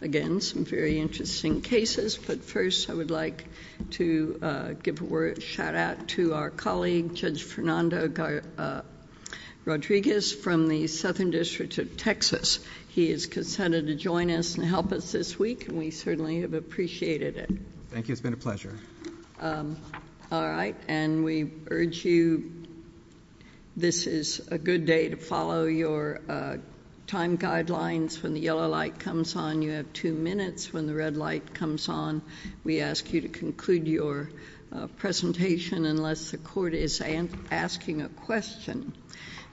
Again, some very interesting cases, but first I would like to give a shout-out to our colleague, Judge Fernando Rodriguez from the Southern District of Texas. He has consented to join us and help us this week, and we certainly have appreciated it. Thank you, it's been a pleasure. All right, and we urge you, this is a good day to follow your time guidelines when the yellow light comes on, you have two minutes when the red light comes on. We ask you to conclude your presentation unless the court is asking a question.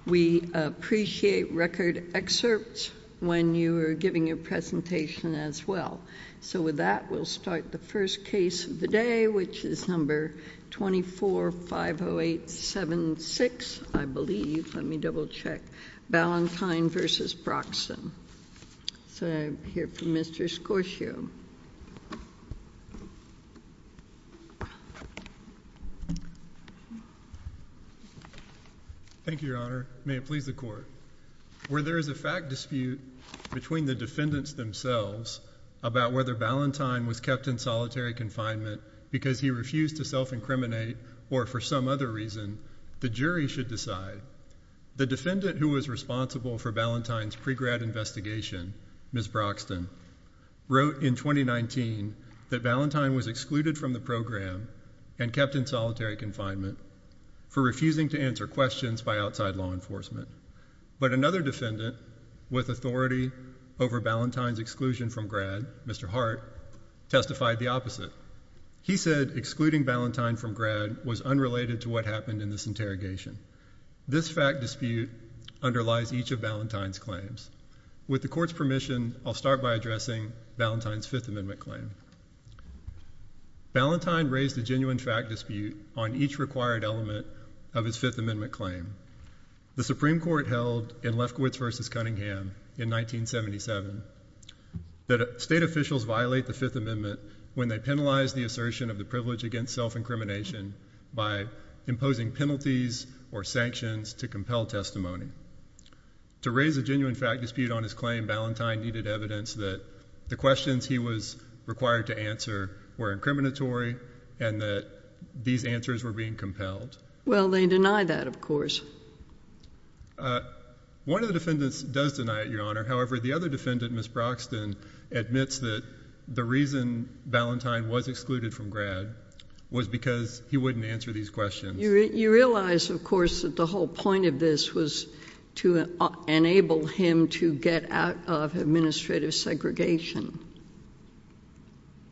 We appreciate record excerpts when you are giving your presentation as well. So with that, we'll start the first case of the day, which is number 2450876, I believe. Let me double-check, Valentine v. Broxton. So I hear from Mr. Scorsio. Thank you, Your Honor. May it please the court. Where there is a fact dispute between the defendants themselves about whether Valentine was kept in solitary confinement because he refused to self-incriminate or for some other reason, the jury should decide. The defendant who was responsible for Valentine's pre-grad investigation, Ms. Broxton, wrote in 2019 that Valentine was excluded from the program and kept in solitary confinement for refusing to answer questions by outside law enforcement. But another defendant with authority over Valentine's exclusion from grad, Mr. Hart, testified the opposite. He said excluding Valentine from grad was unrelated to what happened in this interrogation. This fact dispute underlies each of Valentine's claims. With the court's permission, I'll start by addressing Valentine's Fifth Amendment claim. Valentine raised a genuine fact dispute on each required element of his Fifth Amendment claim. The Supreme Court held in Lefkowitz v. Cunningham in 1977 that state officials violate the Fifth Amendment when they penalize the assertion of the privilege against self-incrimination by imposing penalties or sanctions to compel testimony. To raise a genuine fact dispute on his claim, Valentine needed evidence that the questions he was required to answer were incriminatory and that these answers were being compelled. Well, they deny that, of course. One of the defendants does deny it, Your Honor. However, the other defendant, Ms. Broxton, admits that the reason Valentine was excluded from grad was because he wouldn't answer these questions. You realize, of course, that the whole point of this was to enable him to get out of administrative segregation.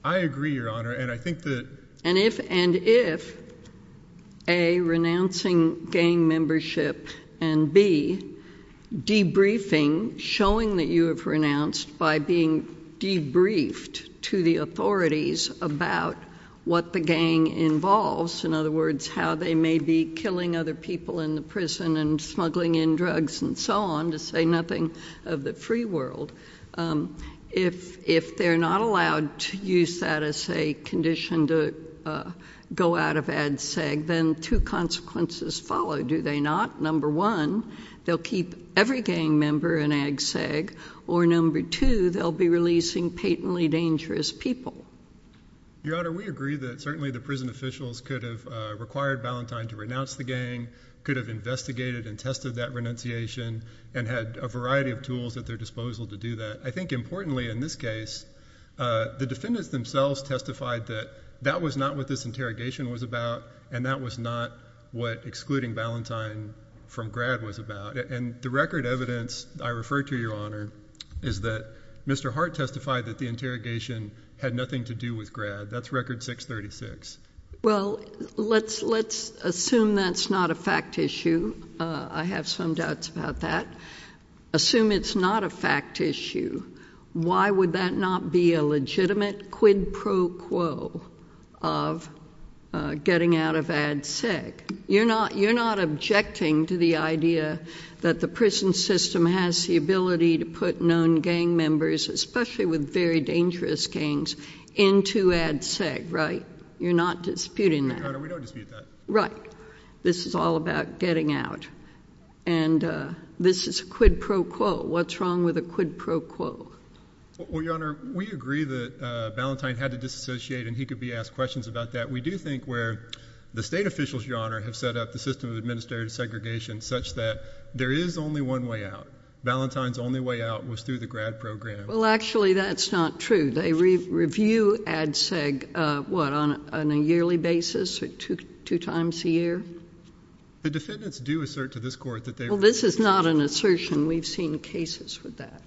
I agree, Your Honor, and I think that- And if, and if, A, renouncing gang membership, and B, debriefing, showing that you have renounced by being debriefed to the authorities about what the gang involves, in other words, how they may be killing other people in the prison and smuggling in drugs and so on, to say nothing of the free world, if they're not allowed to use that as a condition to go out of ag-seg, then two consequences follow, do they not? Number one, they'll keep every gang member in ag-seg, or number two, they'll be releasing patently dangerous people. Your Honor, we agree that certainly the prison officials could have required Valentine to renounce the gang, could have investigated and tested that renunciation, and had a variety of tools at their disposal to do that. I think importantly in this case, the defendants themselves testified that that was not what this interrogation was about, and that was not what excluding Valentine from grad was about, and the record evidence I refer to, Your Honor, is that Mr. Hart testified that the interrogation had nothing to do with grad. That's record 636. Well, let's assume that's not a fact issue. I have some doubts about that. Assume it's not a fact issue. Why would that not be a legitimate quid pro quo of getting out of ag-seg? You're not objecting to the idea that the prison system has the ability to put known gang members, especially with very dangerous gangs, into ag-seg, right? You're not disputing that. Your Honor, we don't dispute that. Right. This is all about getting out. And this is a quid pro quo. What's wrong with a quid pro quo? Well, Your Honor, we agree that Valentine had to disassociate, and he could be asked questions about that. We do think where the state officials, Your Honor, have set up the system of administrative segregation such that there is only one way out. Valentine's only way out was through the grad program. Well, actually, that's not true. They review ag-seg, what, on a yearly basis, two times a year? The defendants do assert to this Court that they review ag-seg. Well, this is not an assertion. We've seen cases with that.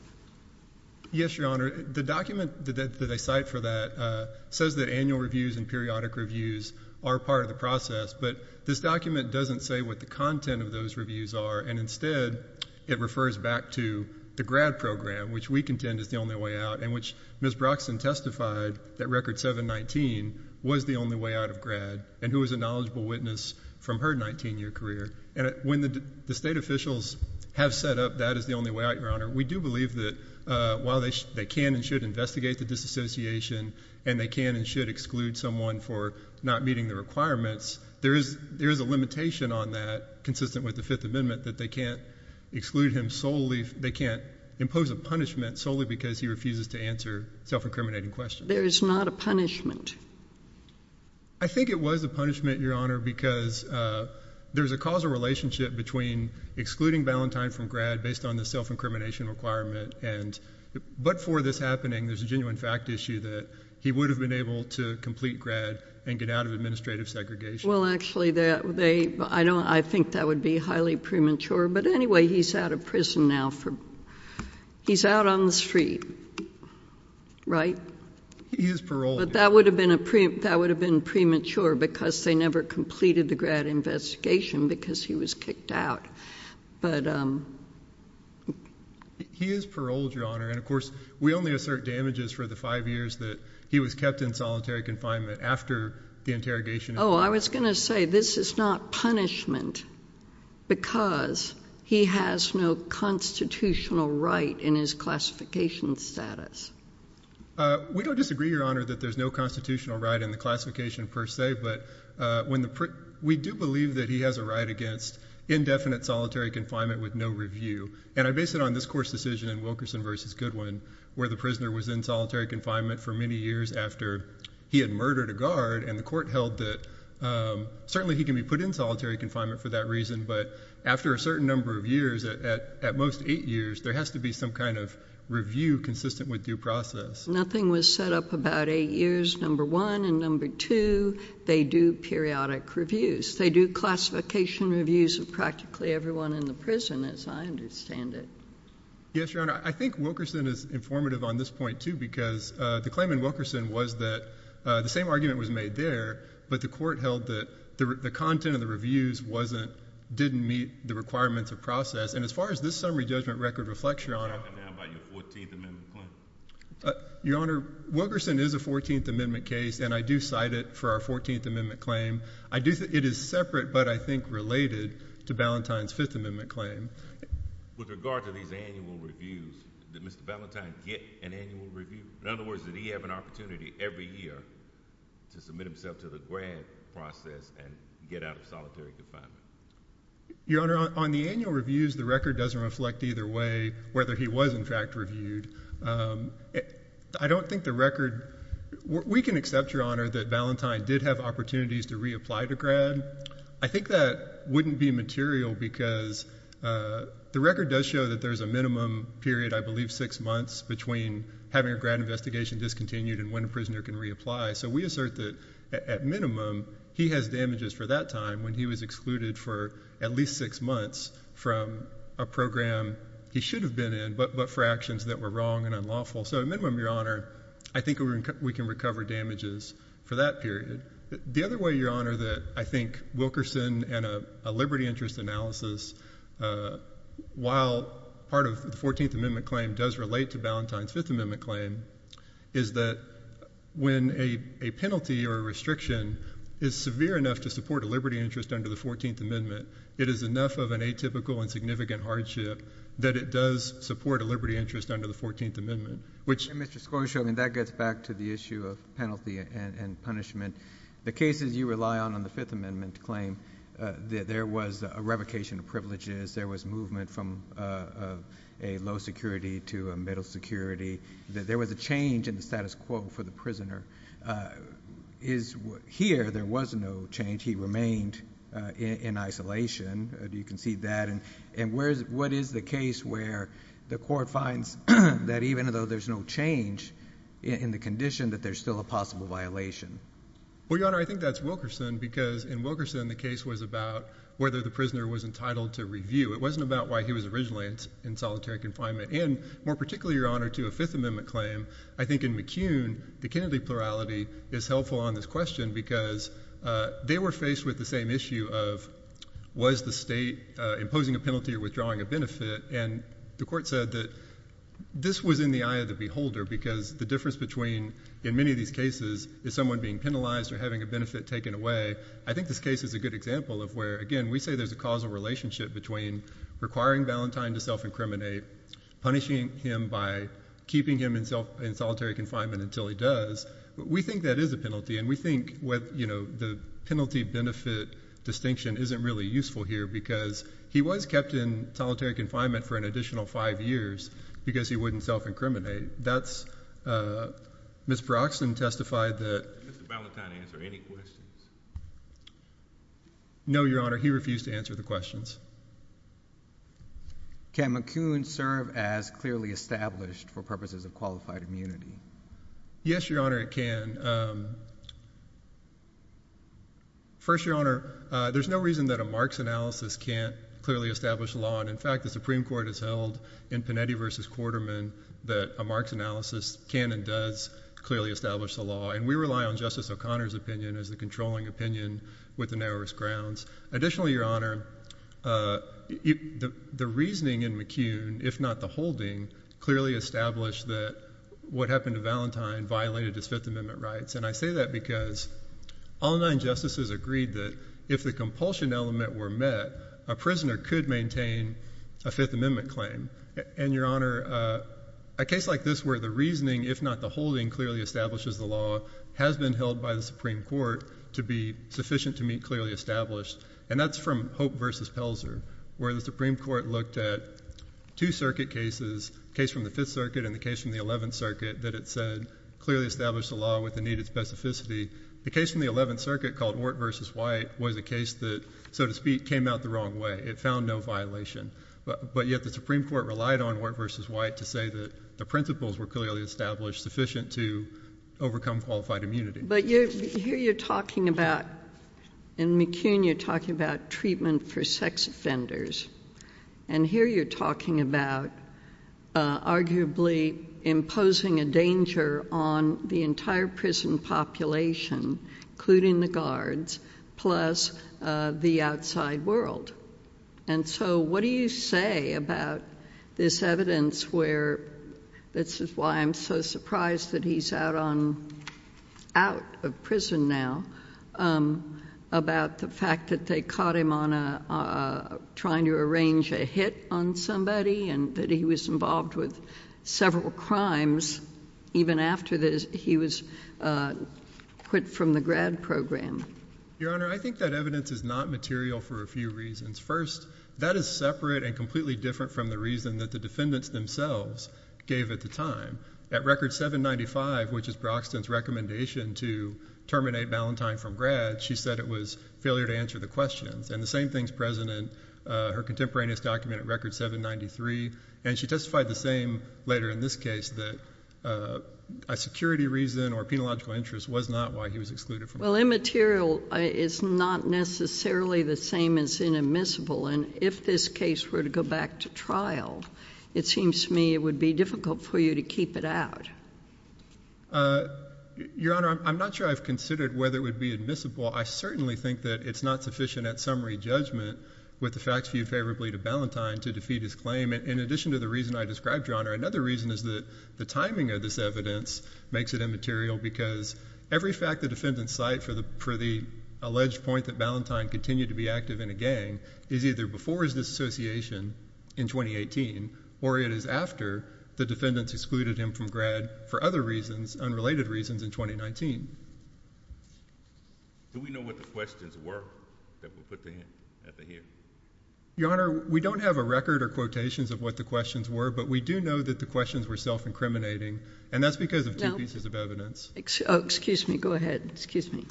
Yes, Your Honor. The document that they cite for that says that annual reviews and periodic reviews are part of the process, but this document doesn't say what the content of those reviews are, and instead it refers back to the grad program, which we contend is the only way out, and which Ms. Broxson testified that Record 719 was the only way out of grad and who was a knowledgeable witness from her 19-year career. And when the state officials have set up that as the only way out, Your Honor, we do believe that while they can and should investigate the disassociation and they can and should exclude someone for not meeting the requirements, there is a limitation on that, consistent with the Fifth Amendment, that they can't exclude him solely, they can't impose a punishment solely because he refuses to answer self-incriminating questions. There is not a punishment. I think it was a punishment, Your Honor, because there's a causal relationship between excluding Valentine from grad based on the self-incrimination requirement, but for this happening, there's a genuine fact issue that he would have been able to complete grad and get out of administrative segregation. Well, actually, I think that would be highly premature. But anyway, he's out of prison now. He's out on the street, right? He is paroled. But that would have been premature because they never completed the grad investigation because he was kicked out. But he is paroled, Your Honor. And, of course, we only assert damages for the five years that he was kept in solitary confinement after the interrogation. Oh, I was going to say this is not punishment because he has no constitutional right in his classification status. We don't disagree, Your Honor, that there's no constitutional right in the classification per se. But we do believe that he has a right against indefinite solitary confinement with no review. And I base it on this court's decision in Wilkerson v. Goodwin, where the prisoner was in solitary confinement for many years after he had murdered a guard, and the court held that certainly he can be put in solitary confinement for that reason. But after a certain number of years, at most eight years, there has to be some kind of review consistent with due process. Nothing was set up about eight years, number one. And, number two, they do periodic reviews. They do classification reviews of practically everyone in the prison, as I understand it. Yes, Your Honor, I think Wilkerson is informative on this point, too, because the claim in Wilkerson was that the same argument was made there, but the court held that the content of the reviews didn't meet the requirements of process. And as far as this summary judgment record reflects, Your Honor— What happened now about your 14th Amendment claim? Your Honor, Wilkerson is a 14th Amendment case, and I do cite it for our 14th Amendment claim. It is separate, but I think related to Ballantyne's 5th Amendment claim. With regard to these annual reviews, did Mr. Ballantyne get an annual review? In other words, did he have an opportunity every year to submit himself to the grant process and get out of solitary confinement? Your Honor, on the annual reviews, the record doesn't reflect either way whether he was in fact reviewed. I don't think the record—we can accept, Your Honor, that Ballantyne did have opportunities to reapply to grad. I think that wouldn't be material because the record does show that there's a minimum period, I believe, six months between having a grad investigation discontinued and when a prisoner can reapply. So we assert that, at minimum, he has damages for that time, when he was excluded for at least six months from a program he should have been in, but for actions that were wrong and unlawful. So at minimum, Your Honor, I think we can recover damages for that period. The other way, Your Honor, that I think Wilkerson and a liberty interest analysis, while part of the 14th Amendment claim does relate to Ballantyne's 5th Amendment claim, is that when a penalty or a restriction is severe enough to support a liberty interest under the 14th Amendment, it is enough of an atypical and significant hardship that it does support a liberty interest under the 14th Amendment, which— Mr. Scorsese, that gets back to the issue of penalty and punishment. The cases you rely on in the 5th Amendment claim, there was a revocation of privileges, there was movement from a low security to a middle security, there was a change in the status quo for the prisoner. Here, there was no change. He remained in isolation. Do you concede that? And what is the case where the court finds that even though there's no change in the condition, that there's still a possible violation? Well, Your Honor, I think that's Wilkerson because in Wilkerson the case was about whether the prisoner was entitled to review. It wasn't about why he was originally in solitary confinement. And more particularly, Your Honor, to a 5th Amendment claim, I think in McCune the Kennedy plurality is helpful on this question because they were faced with the same issue of was the state imposing a penalty or withdrawing a benefit? And the court said that this was in the eye of the beholder because the difference between, in many of these cases, is someone being penalized or having a benefit taken away. I think this case is a good example of where, again, we say there's a causal relationship between requiring Valentine to self-incriminate, and punishing him by keeping him in solitary confinement until he does. But we think that is a penalty, and we think the penalty-benefit distinction isn't really useful here because he was kept in solitary confinement for an additional five years because he wouldn't self-incriminate. Ms. Broxton testified that... Did Mr. Valentine answer any questions? No, Your Honor, he refused to answer the questions. Can McCune serve as clearly established for purposes of qualified immunity? Yes, Your Honor, it can. First, Your Honor, there's no reason that a Marx analysis can't clearly establish the law, and in fact the Supreme Court has held in Panetti v. Quarterman that a Marx analysis can and does clearly establish the law, and we rely on Justice O'Connor's opinion as the controlling opinion with the narrowest grounds. Additionally, Your Honor, the reasoning in McCune, if not the holding, clearly established that what happened to Valentine violated his Fifth Amendment rights, and I say that because all nine justices agreed that if the compulsion element were met, a prisoner could maintain a Fifth Amendment claim. And, Your Honor, a case like this where the reasoning, if not the holding, clearly establishes the law has been held by the Supreme Court to be sufficient to meet clearly established, and that's from Hope v. Pelzer where the Supreme Court looked at two circuit cases, a case from the Fifth Circuit and a case from the Eleventh Circuit, that it said clearly established the law with the needed specificity. The case from the Eleventh Circuit called Ort v. White was a case that, so to speak, came out the wrong way. It found no violation. But yet the Supreme Court relied on Ort v. White to say that the principles were clearly established sufficient to overcome qualified immunity. But here you're talking about, in McCune you're talking about treatment for sex offenders, and here you're talking about arguably imposing a danger on the entire prison population, including the guards, plus the outside world. And so what do you say about this evidence where, this is why I'm so surprised that he's out of prison now, about the fact that they caught him trying to arrange a hit on somebody and that he was involved with several crimes even after he was quit from the grad program? Your Honor, I think that evidence is not material for a few reasons. First, that is separate and completely different from the reason that the defendants themselves gave at the time. At Record 795, which is Braxton's recommendation to terminate Ballantyne from grad, she said it was failure to answer the questions. And the same thing is present in her contemporaneous document at Record 793, and she testified the same later in this case, that a security reason or a penological interest was not why he was excluded from grad. Well, immaterial is not necessarily the same as inadmissible, and if this case were to go back to trial, it seems to me it would be difficult for you to keep it out. Your Honor, I'm not sure I've considered whether it would be admissible. I certainly think that it's not sufficient at summary judgment, with the facts viewed favorably to Ballantyne, to defeat his claim. In addition to the reason I described, Your Honor, another reason is that the timing of this evidence makes it immaterial because every fact the defendants cite for the alleged point that Ballantyne continued to be active in a gang is either before his dissociation in 2018, or it is after the defendants excluded him from grad for other reasons, unrelated reasons, in 2019. Do we know what the questions were that were put to him at the hearing? Your Honor, we don't have a record or quotations of what the questions were, but we do know that the questions were self-incriminating, and that's because of two pieces of evidence. Oh, excuse me. Go ahead. Excuse me.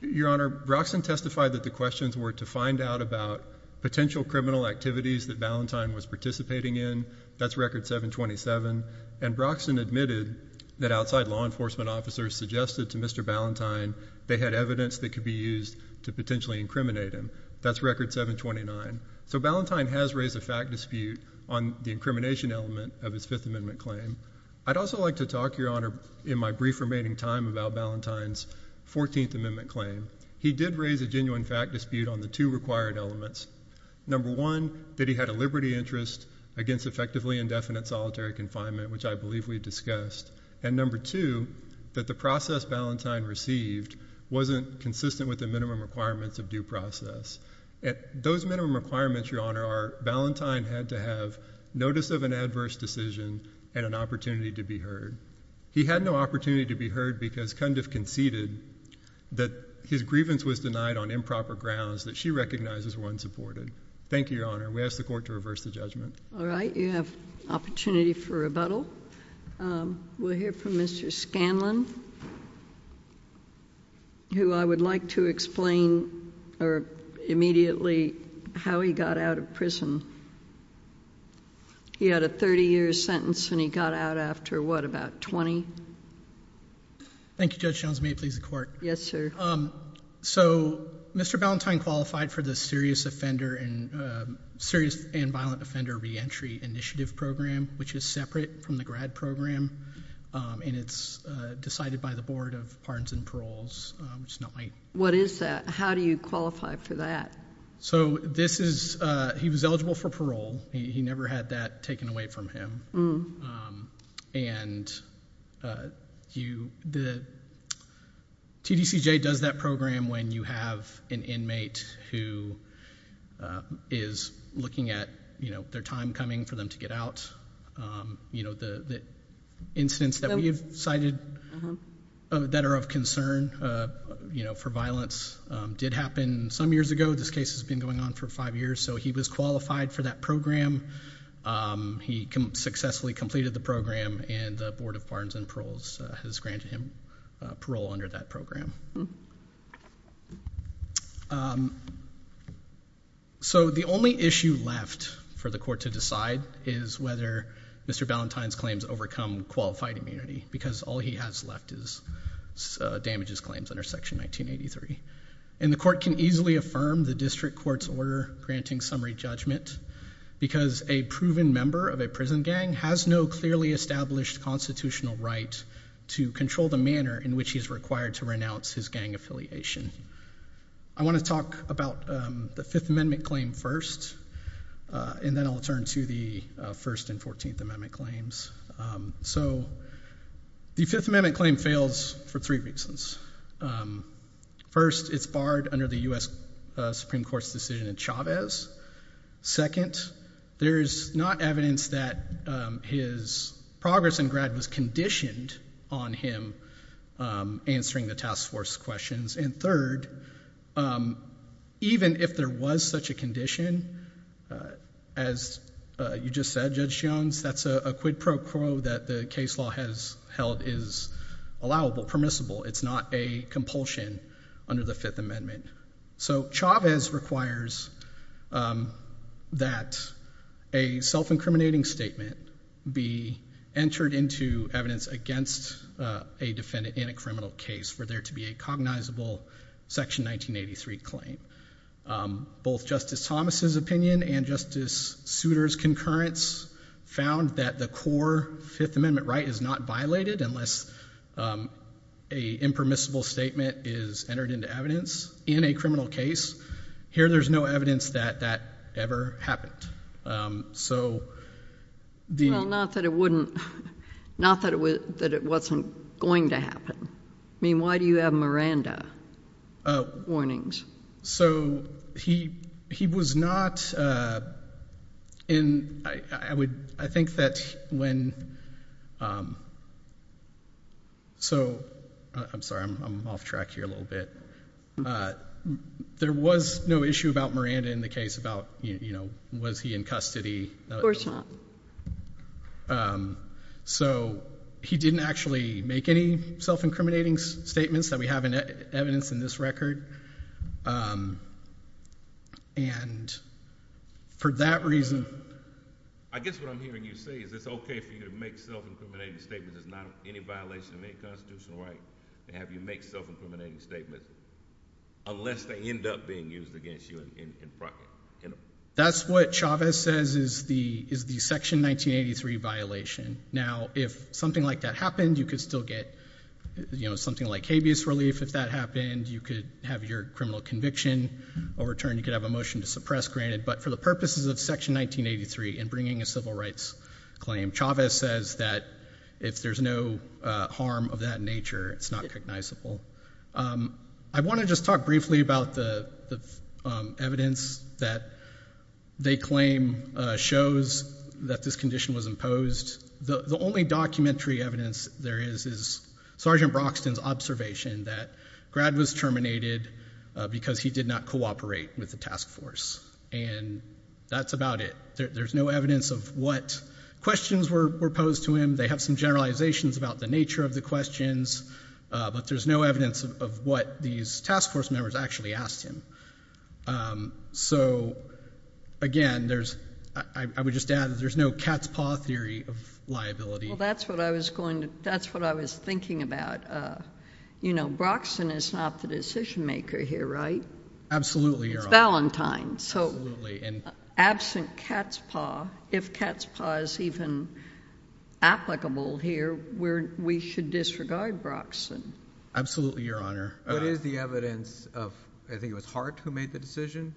Your Honor, Broxson testified that the questions were to find out about potential criminal activities that Ballantyne was participating in. That's Record 727. And Broxson admitted that outside law enforcement officers suggested to Mr. Ballantyne they had evidence that could be used to potentially incriminate him. That's Record 729. So Ballantyne has raised a fact dispute on the incrimination element of his Fifth Amendment claim. I'd also like to talk, Your Honor, in my brief remaining time about Ballantyne's Fourteenth Amendment claim. He did raise a genuine fact dispute on the two required elements. Number one, that he had a liberty interest against effectively indefinite solitary confinement, which I believe we discussed. And number two, that the process Ballantyne received wasn't consistent with the minimum requirements of due process. Those minimum requirements, Your Honor, are Ballantyne had to have notice of an adverse decision and an opportunity to be heard. He had no opportunity to be heard because Cundiff conceded that his grievance was denied on improper grounds that she recognizes were unsupported. Thank you, Your Honor. We ask the Court to reverse the judgment. All right. You have opportunity for rebuttal. We'll hear from Mr. Scanlon, who I would like to explain immediately how he got out of prison. He had a 30-year sentence, and he got out after, what, about 20? Thank you, Judge Jones. May it please the Court? Yes, sir. So Mr. Ballantyne qualified for the Serious Offender and Violent Offender Reentry Initiative Program, which is separate from the Grad Program, and it's decided by the Board of Pardons and Paroles. What is that? How do you qualify for that? So this is he was eligible for parole. He never had that taken away from him. And the TDCJ does that program when you have an inmate who is looking at their time coming for them to get out. The incidents that we have cited that are of concern for violence did happen some years ago. This case has been going on for five years, so he was qualified for that program. He successfully completed the program, and the Board of Pardons and Paroles has granted him parole under that program. So the only issue left for the Court to decide is whether Mr. Ballantyne's claims overcome qualified immunity because all he has left is damages claims under Section 1983. And the Court can easily affirm the district court's order granting summary judgment because a proven member of a prison gang has no clearly established constitutional right to control the manner in which he is required to renounce his gang affiliation. I want to talk about the Fifth Amendment claim first, and then I'll turn to the First and Fourteenth Amendment claims. So the Fifth Amendment claim fails for three reasons. First, it's barred under the U.S. Supreme Court's decision in Chavez. Second, there is not evidence that his progress in grad was conditioned on him answering the task force questions. And third, even if there was such a condition, as you just said, Judge Jones, that's a quid pro quo that the case law has held is permissible. It's not a compulsion under the Fifth Amendment. So Chavez requires that a self-incriminating statement be entered into evidence against a defendant in a criminal case for there to be a cognizable Section 1983 claim. Both Justice Thomas's opinion and Justice Souter's concurrence found that the core Fifth Amendment right is not violated unless a impermissible statement is entered into evidence in a criminal case. Here there's no evidence that that ever happened. Well, not that it wasn't going to happen. I mean, why do you have Miranda warnings? So he was not in, I would, I think that when, so, I'm sorry, I'm off track here a little bit. There was no issue about Miranda in the case about, you know, was he in custody. Of course not. So he didn't actually make any self-incriminating statements that we have in evidence in this record. And for that reason. I guess what I'm hearing you say is it's okay for you to make self-incriminating statements that's not any violation of any Constitutional right and have you make self-incriminating statements unless they end up being used against you in private. That's what Chavez says is the Section 1983 violation. Now, if something like that happened, you could still get, you know, something like habeas relief if that happened. You could have your criminal conviction overturned. You could have a motion to suppress granted. But for the purposes of Section 1983 and bringing a civil rights claim, Chavez says that if there's no harm of that nature, it's not recognizable. I want to just talk briefly about the evidence that they claim shows that this condition was imposed. The only documentary evidence there is is Sergeant Broxton's observation that Grad was terminated because he did not cooperate with the task force. And that's about it. There's no evidence of what questions were posed to him. They have some generalizations about the nature of the questions. But there's no evidence of what these task force members actually asked him. So, again, I would just add that there's no cat's paw theory of liability. Well, that's what I was thinking about. You know, Broxton is not the decision maker here, right? Absolutely, Your Honor. It's Ballantyne. Absolutely. Absent cat's paw, if cat's paw is even applicable here, we should disregard Broxton. Absolutely, Your Honor. What is the evidence of, I think it was Hart who made the decision?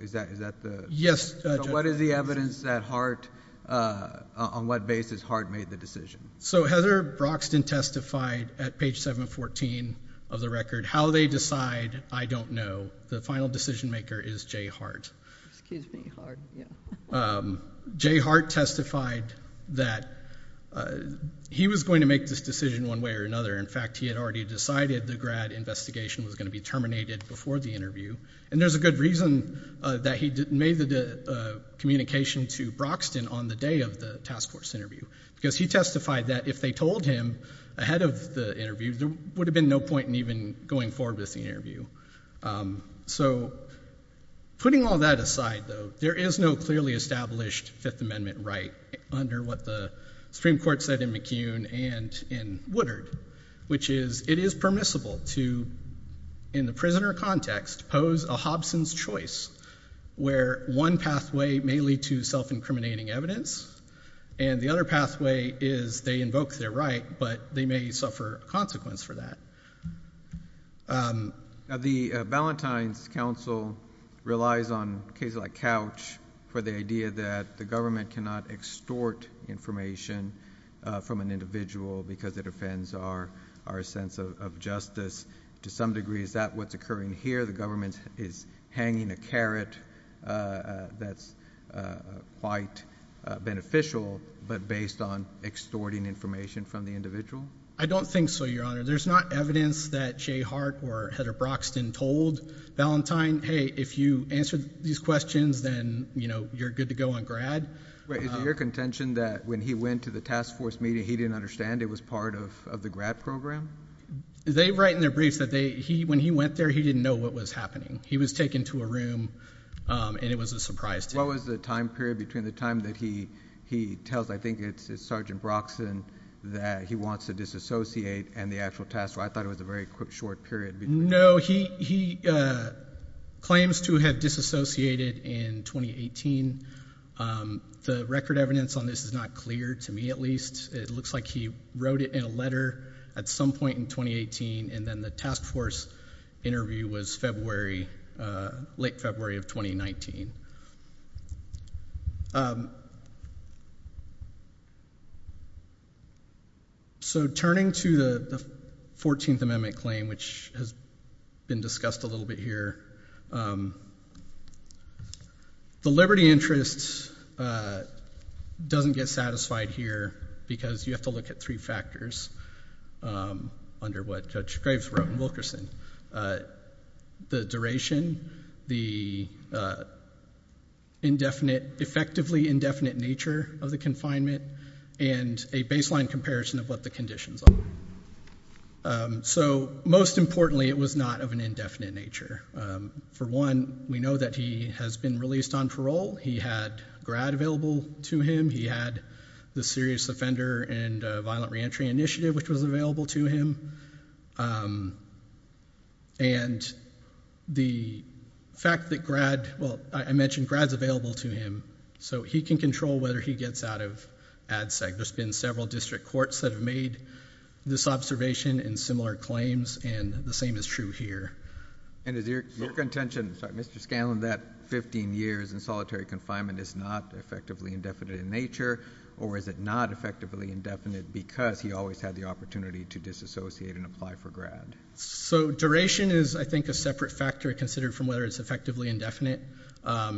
Is that the? Yes, Judge. What is the evidence that Hart, on what basis Hart made the decision? So Heather Broxton testified at page 714 of the record, how they decide, I don't know, the final decision maker is Jay Hart. Excuse me, Hart. Jay Hart testified that he was going to make this decision one way or another. In fact, he had already decided the grad investigation was going to be terminated before the interview. And there's a good reason that he made the communication to Broxton on the day of the task force interview, because he testified that if they told him ahead of the interview, there would have been no point in even going forward with the interview. So putting all that aside, though, there is no clearly established Fifth Amendment right under what the Supreme Court said in McCune and in Woodard, which is it is permissible to, in the prisoner context, pose a Hobson's choice, where one pathway may lead to self-incriminating evidence, and the other pathway is they invoke their right, but they may suffer a consequence for that. The Ballantyne's counsel relies on cases like Couch for the idea that the government cannot extort information from an individual because it offends our sense of justice. To some degree, is that what's occurring here? The government is hanging a carrot that's quite beneficial, but based on extorting information from the individual? I don't think so, Your Honor. There's not evidence that Jay Hart or Heather Broxton told Ballantyne, hey, if you answer these questions, then, you know, you're good to go on grad. Is it your contention that when he went to the task force meeting, he didn't understand it was part of the grad program? They write in their briefs that when he went there, he didn't know what was happening. He was taken to a room, and it was a surprise to him. What was the time period between the time that he tells, I think it's Sergeant Broxton, that he wants to disassociate and the actual task force? I thought it was a very short period. No, he claims to have disassociated in 2018. The record evidence on this is not clear, to me at least. It looks like he wrote it in a letter at some point in 2018, and then the task force interview was February, late February of 2019. So turning to the 14th Amendment claim, which has been discussed a little bit here, the liberty interest doesn't get satisfied here because you have to look at three factors under what Judge Graves wrote in Wilkerson. The duration, the indefinite, effectively indefinite nature of the confinement, and a baseline comparison of what the conditions are. So, most importantly, it was not of an indefinite nature. For one, we know that he has been released on parole. He had GRAD available to him. He had the Serious Offender and Violent Reentry Initiative, which was available to him. And the fact that GRAD, well, I mentioned GRAD's available to him, so he can control whether he gets out of ADSEC. There's been several district courts that have made this observation and similar claims, and the same is true here. And is your contention, Mr. Scanlon, that 15 years in solitary confinement is not effectively indefinite in nature, or is it not effectively indefinite because he always had the opportunity to disassociate and apply for GRAD? So duration is, I think, a separate factor considered from whether it's effectively indefinite.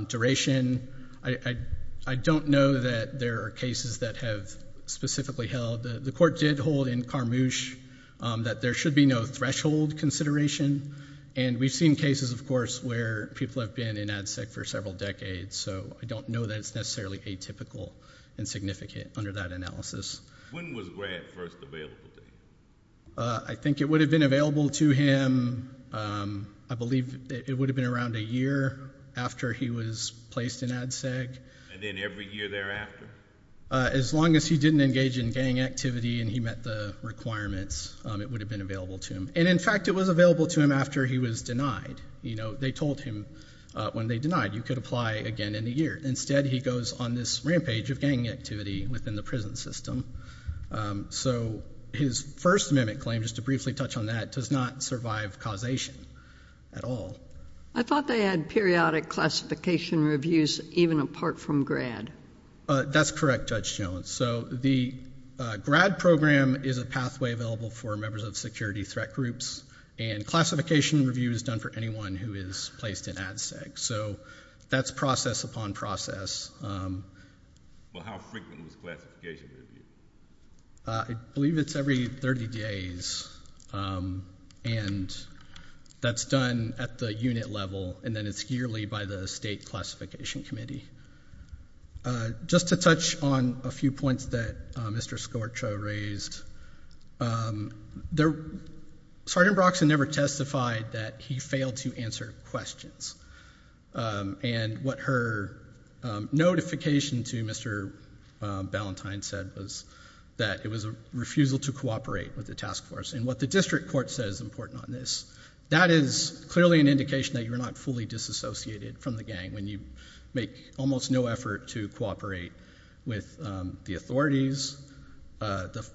Duration, I don't know that there are cases that have specifically held. The court did hold in Carmouche that there should be no threshold consideration, and we've seen cases, of course, where people have been in ADSEC for several decades, so I don't know that it's necessarily atypical and significant under that analysis. When was GRAD first available to him? I think it would have been available to him, I believe it would have been around a year after he was placed in ADSEC. And then every year thereafter? As long as he didn't engage in gang activity and he met the requirements, it would have been available to him. And, in fact, it was available to him after he was denied. They told him when they denied, you could apply again in a year. Instead, he goes on this rampage of gang activity within the prison system. So his first amendment claim, just to briefly touch on that, does not survive causation at all. I thought they had periodic classification reviews even apart from GRAD. That's correct, Judge Jones. So the GRAD program is a pathway available for members of security threat groups, and classification review is done for anyone who is placed in ADSEC. So that's process upon process. Well, how frequent was classification review? I believe it's every 30 days, and that's done at the unit level, and then it's yearly by the State Classification Committee. Just to touch on a few points that Mr. Scorcho raised, Sergeant Broxson never testified that he failed to answer questions. And what her notification to Mr. Ballantyne said was that it was a refusal to cooperate with the task force. And what the district court said is important on this. That is clearly an indication that you're not fully disassociated from the gang when you make almost no effort to cooperate with the authorities. The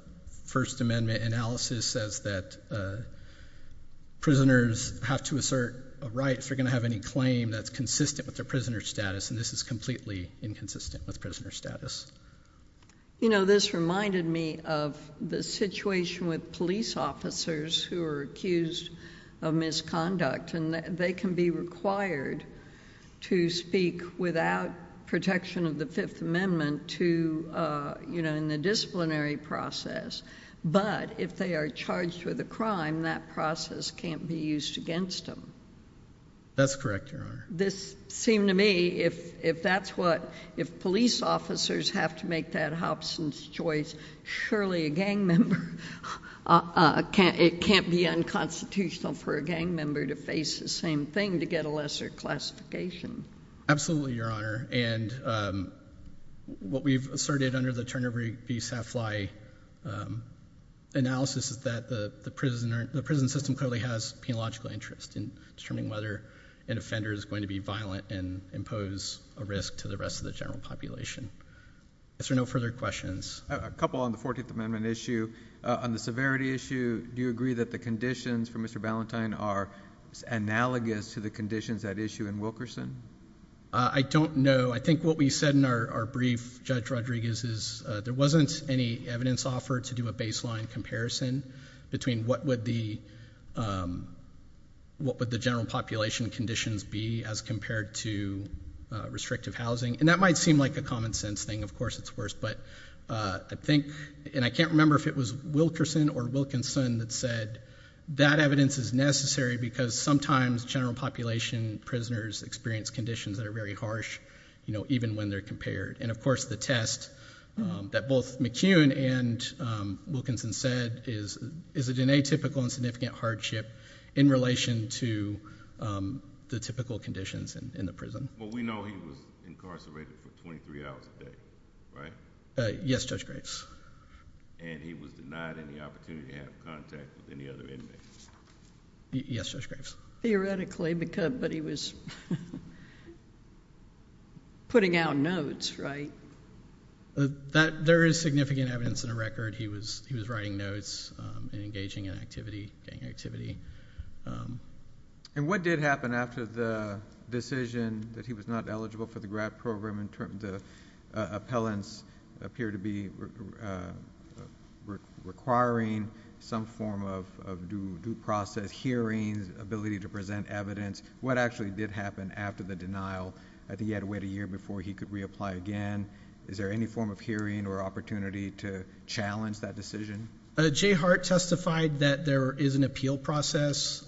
first amendment analysis says that prisoners have to assert a right if they're going to have any claim that's consistent with their prisoner status, and this is completely inconsistent with prisoner status. You know, this reminded me of the situation with police officers who are accused of misconduct, and they can be required to speak without protection of the Fifth Amendment in the disciplinary process. But if they are charged with a crime, that process can't be used against them. That's correct, Your Honor. This seemed to me, if police officers have to make that Hobson's choice, surely it can't be unconstitutional for a gang member to face the same thing to get a lesser classification. Absolutely, Your Honor. And what we've asserted under the Turner v. Safly analysis is that the prison system clearly has a penological interest in determining whether an offender is going to be violent and impose a risk to the rest of the general population. Is there no further questions? A couple on the 14th Amendment issue. On the severity issue, do you agree that the conditions for Mr. Ballantyne are analogous to the conditions at issue in Wilkerson? I don't know. I think what we said in our brief, Judge Rodriguez, is there wasn't any evidence offered to do a baseline comparison between what would the general population conditions be as compared to restrictive housing. And that might seem like a common sense thing. Of course, it's worse. But I think, and I can't remember if it was Wilkerson or Wilkinson that said, that evidence is necessary because sometimes general population prisoners experience conditions that are very harsh even when they're compared. And, of course, the test that both McCune and Wilkinson said is a DNA-typical insignificant hardship in relation to the typical conditions in the prison. Well, we know he was incarcerated for 23 hours a day, right? Yes, Judge Graves. And he was denied any opportunity to have contact with any other inmates. Yes, Judge Graves. Theoretically, but he was putting out notes, right? There is significant evidence in the record. He was writing notes and engaging in activity, gang activity. And what did happen after the decision that he was not eligible for the grad program in terms of appellants appear to be requiring some form of due process, hearings, ability to present evidence? What actually did happen after the denial that he had to wait a year before he could reapply again? Is there any form of hearing or opportunity to challenge that decision? Jay Hart testified that there is an appeal process.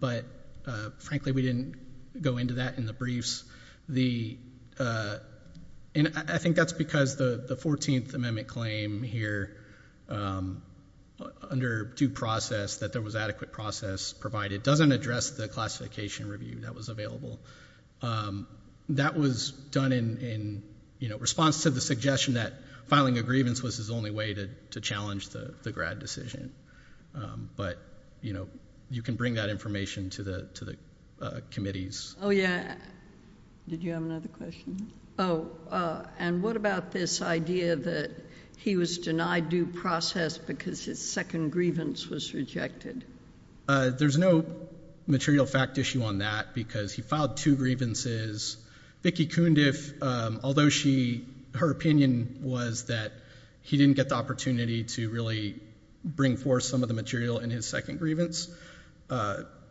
But, frankly, we didn't go into that in the briefs. And I think that's because the 14th Amendment claim here under due process, that there was adequate process provided, doesn't address the classification review that was available. That was done in response to the suggestion that filing a grievance was his only way to challenge the grad decision. But, you know, you can bring that information to the committees. Oh, yeah. Did you have another question? Oh, and what about this idea that he was denied due process because his second grievance was rejected? There's no material fact issue on that because he filed two grievances. Vicki Kundiff, although her opinion was that he didn't get the opportunity to really bring forth some of the material in his second grievance,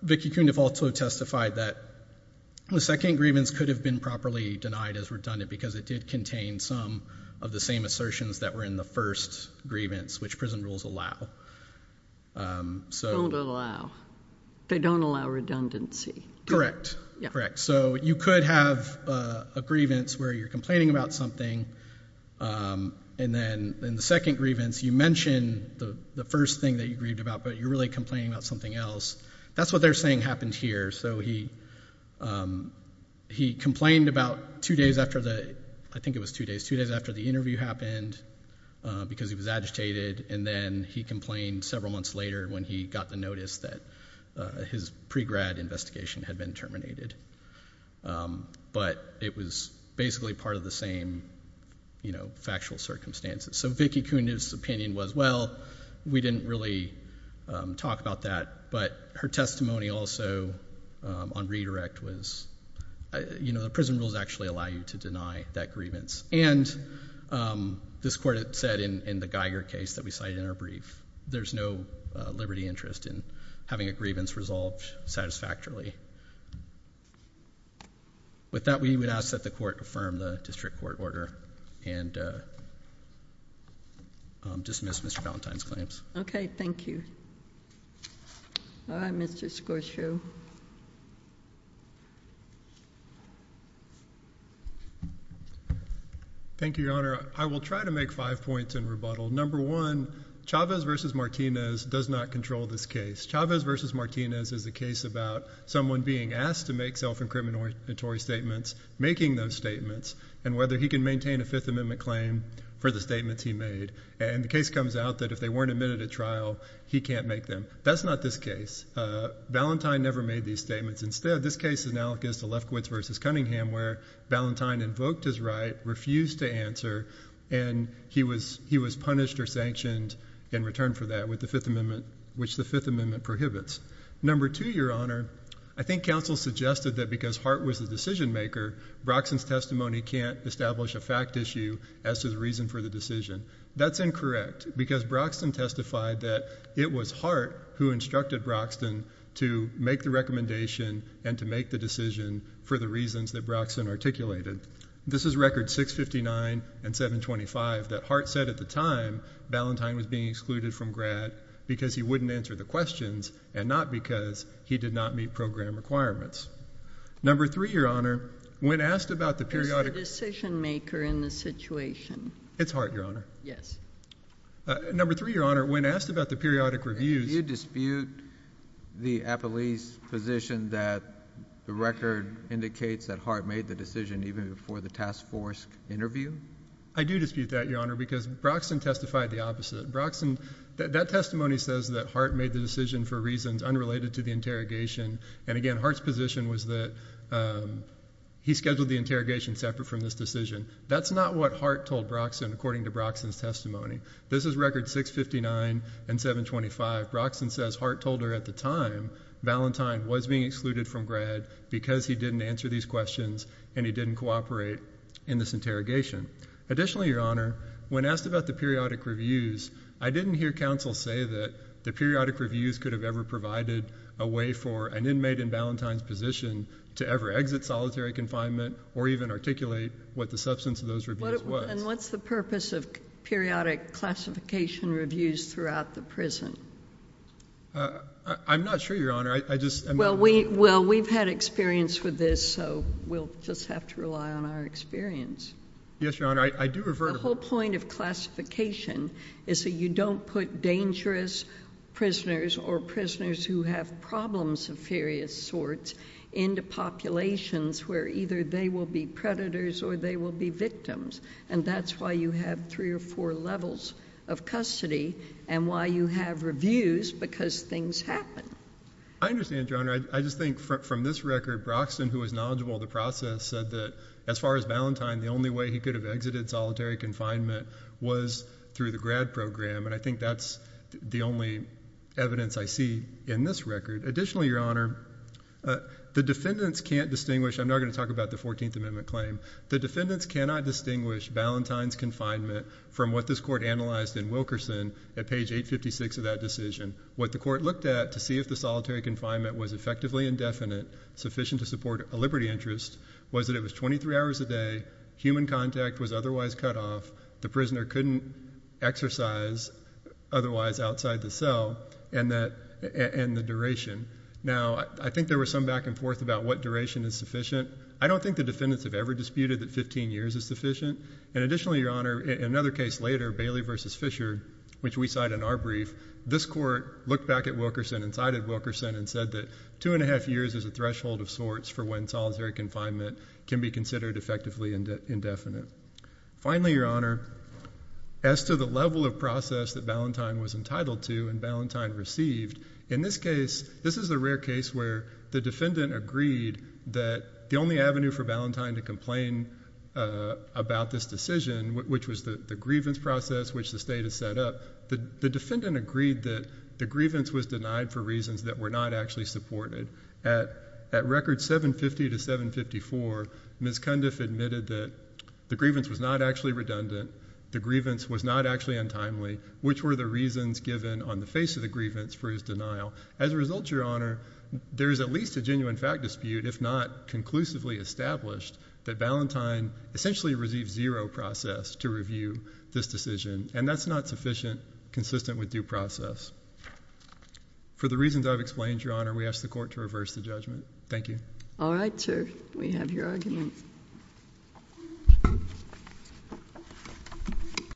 Vicki Kundiff also testified that the second grievance could have been properly denied as redundant because it did contain some of the same assertions that were in the first grievance, which prison rules allow. Don't allow. They don't allow redundancy. Correct. Correct. So you could have a grievance where you're complaining about something, and then in the second grievance you mention the first thing that you grieved about, but you're really complaining about something else. That's what they're saying happened here. So he complained about two days after the interview happened because he was agitated, and then he complained several months later when he got the notice that his pre-grad investigation had been terminated. But it was basically part of the same factual circumstances. So Vicki Kundiff's opinion was, well, we didn't really talk about that, but her testimony also on redirect was, you know, the prison rules actually allow you to deny that grievance. And this court said in the Geiger case that we cited in our brief, there's no liberty interest in having a grievance resolved satisfactorily. With that, we would ask that the court affirm the district court order and dismiss Mr. Valentine's claims. Thank you. All right. Mr. Scorsese. Thank you, Your Honor. I will try to make five points in rebuttal. Number one, Chavez v. Martinez does not control this case. Chavez v. Martinez is a case about someone being asked to make self-incriminatory statements, making those statements, and whether he can maintain a Fifth Amendment claim for the statements he made. And the case comes out that if they weren't admitted at trial, he can't make them. That's not this case. Valentine never made these statements. Instead, this case is analogous to Lefkowitz v. Cunningham, where Valentine invoked his right, refused to answer, and he was punished or sanctioned in return for that, which the Fifth Amendment prohibits. Number two, Your Honor, I think counsel suggested that because Hart was the decision-maker, Broxton's testimony can't establish a fact issue as to the reason for the decision. That's incorrect, because Broxton testified that it was Hart who instructed Broxton to make the recommendation and to make the decision for the reasons that Broxton articulated. This is records 659 and 725 that Hart said at the time Valentine was being excluded from GRAD because he wouldn't answer the questions and not because he did not meet program requirements. Number three, Your Honor, when asked about the periodic – Who's the decision-maker in this situation? It's Hart, Your Honor. Yes. Number three, Your Honor, when asked about the periodic reviews – Do you dispute the appellee's position that the record indicates that Hart made the decision even before the task force interview? I do dispute that, Your Honor, because Broxton testified the opposite. Broxton – that testimony says that Hart made the decision for reasons unrelated to the interrogation, and again, Hart's position was that he scheduled the interrogation separate from this decision. That's not what Hart told Broxton according to Broxton's testimony. This is records 659 and 725. Broxton says Hart told her at the time Valentine was being excluded from GRAD because he didn't answer these questions and he didn't cooperate in this interrogation. Additionally, Your Honor, when asked about the periodic reviews, I didn't hear counsel say that the periodic reviews could have ever provided a way for an inmate in Valentine's position to ever exit solitary confinement or even articulate what the substance of those reviews was. And what's the purpose of periodic classification reviews throughout the prison? I'm not sure, Your Honor. Well, we've had experience with this, so we'll just have to rely on our experience. Yes, Your Honor, I do refer to – The whole point of classification is that you don't put dangerous prisoners or prisoners who have problems of various sorts into populations where either they will be predators or they will be victims. And that's why you have three or four levels of custody and why you have reviews because things happen. I understand, Your Honor. I just think from this record, Broxton, who was knowledgeable of the process, said that as far as Valentine, the only way he could have exited solitary confinement was through the GRAD program, and I think that's the only evidence I see in this record. Additionally, Your Honor, the defendants can't distinguish – I'm not going to talk about the 14th Amendment claim. The defendants cannot distinguish Valentine's confinement from what this court analyzed in Wilkerson at page 856 of that decision. What the court looked at to see if the solitary confinement was effectively indefinite, sufficient to support a liberty interest, was that it was 23 hours a day, human contact was otherwise cut off, the prisoner couldn't exercise otherwise outside the cell, and the duration. Now, I think there was some back and forth about what duration is sufficient. I don't think the defendants have ever disputed that 15 years is sufficient, and additionally, Your Honor, in another case later, Bailey v. Fisher, which we cite in our brief, this court looked back at Wilkerson and cited Wilkerson and said that two and a half years is a threshold of sorts for when solitary confinement can be considered effectively indefinite. Finally, Your Honor, as to the level of process that Valentine was entitled to and Valentine received, in this case, this is a rare case where the defendant agreed that the only avenue for Valentine to complain about this decision, which was the grievance process which the state has set up, the defendant agreed that the grievance was denied for reasons that were not actually supported. At record 750 to 754, Ms. Cundiff admitted that the grievance was not actually redundant, the grievance was not actually untimely, which were the reasons given on the face of the grievance for his denial. As a result, Your Honor, there is at least a genuine fact dispute, if not conclusively established, that Valentine essentially received zero process to review this decision, and that's not sufficient, consistent with due process. For the reasons I've explained, Your Honor, we ask the court to reverse the judgment. Thank you. All right, sir. We have your argument.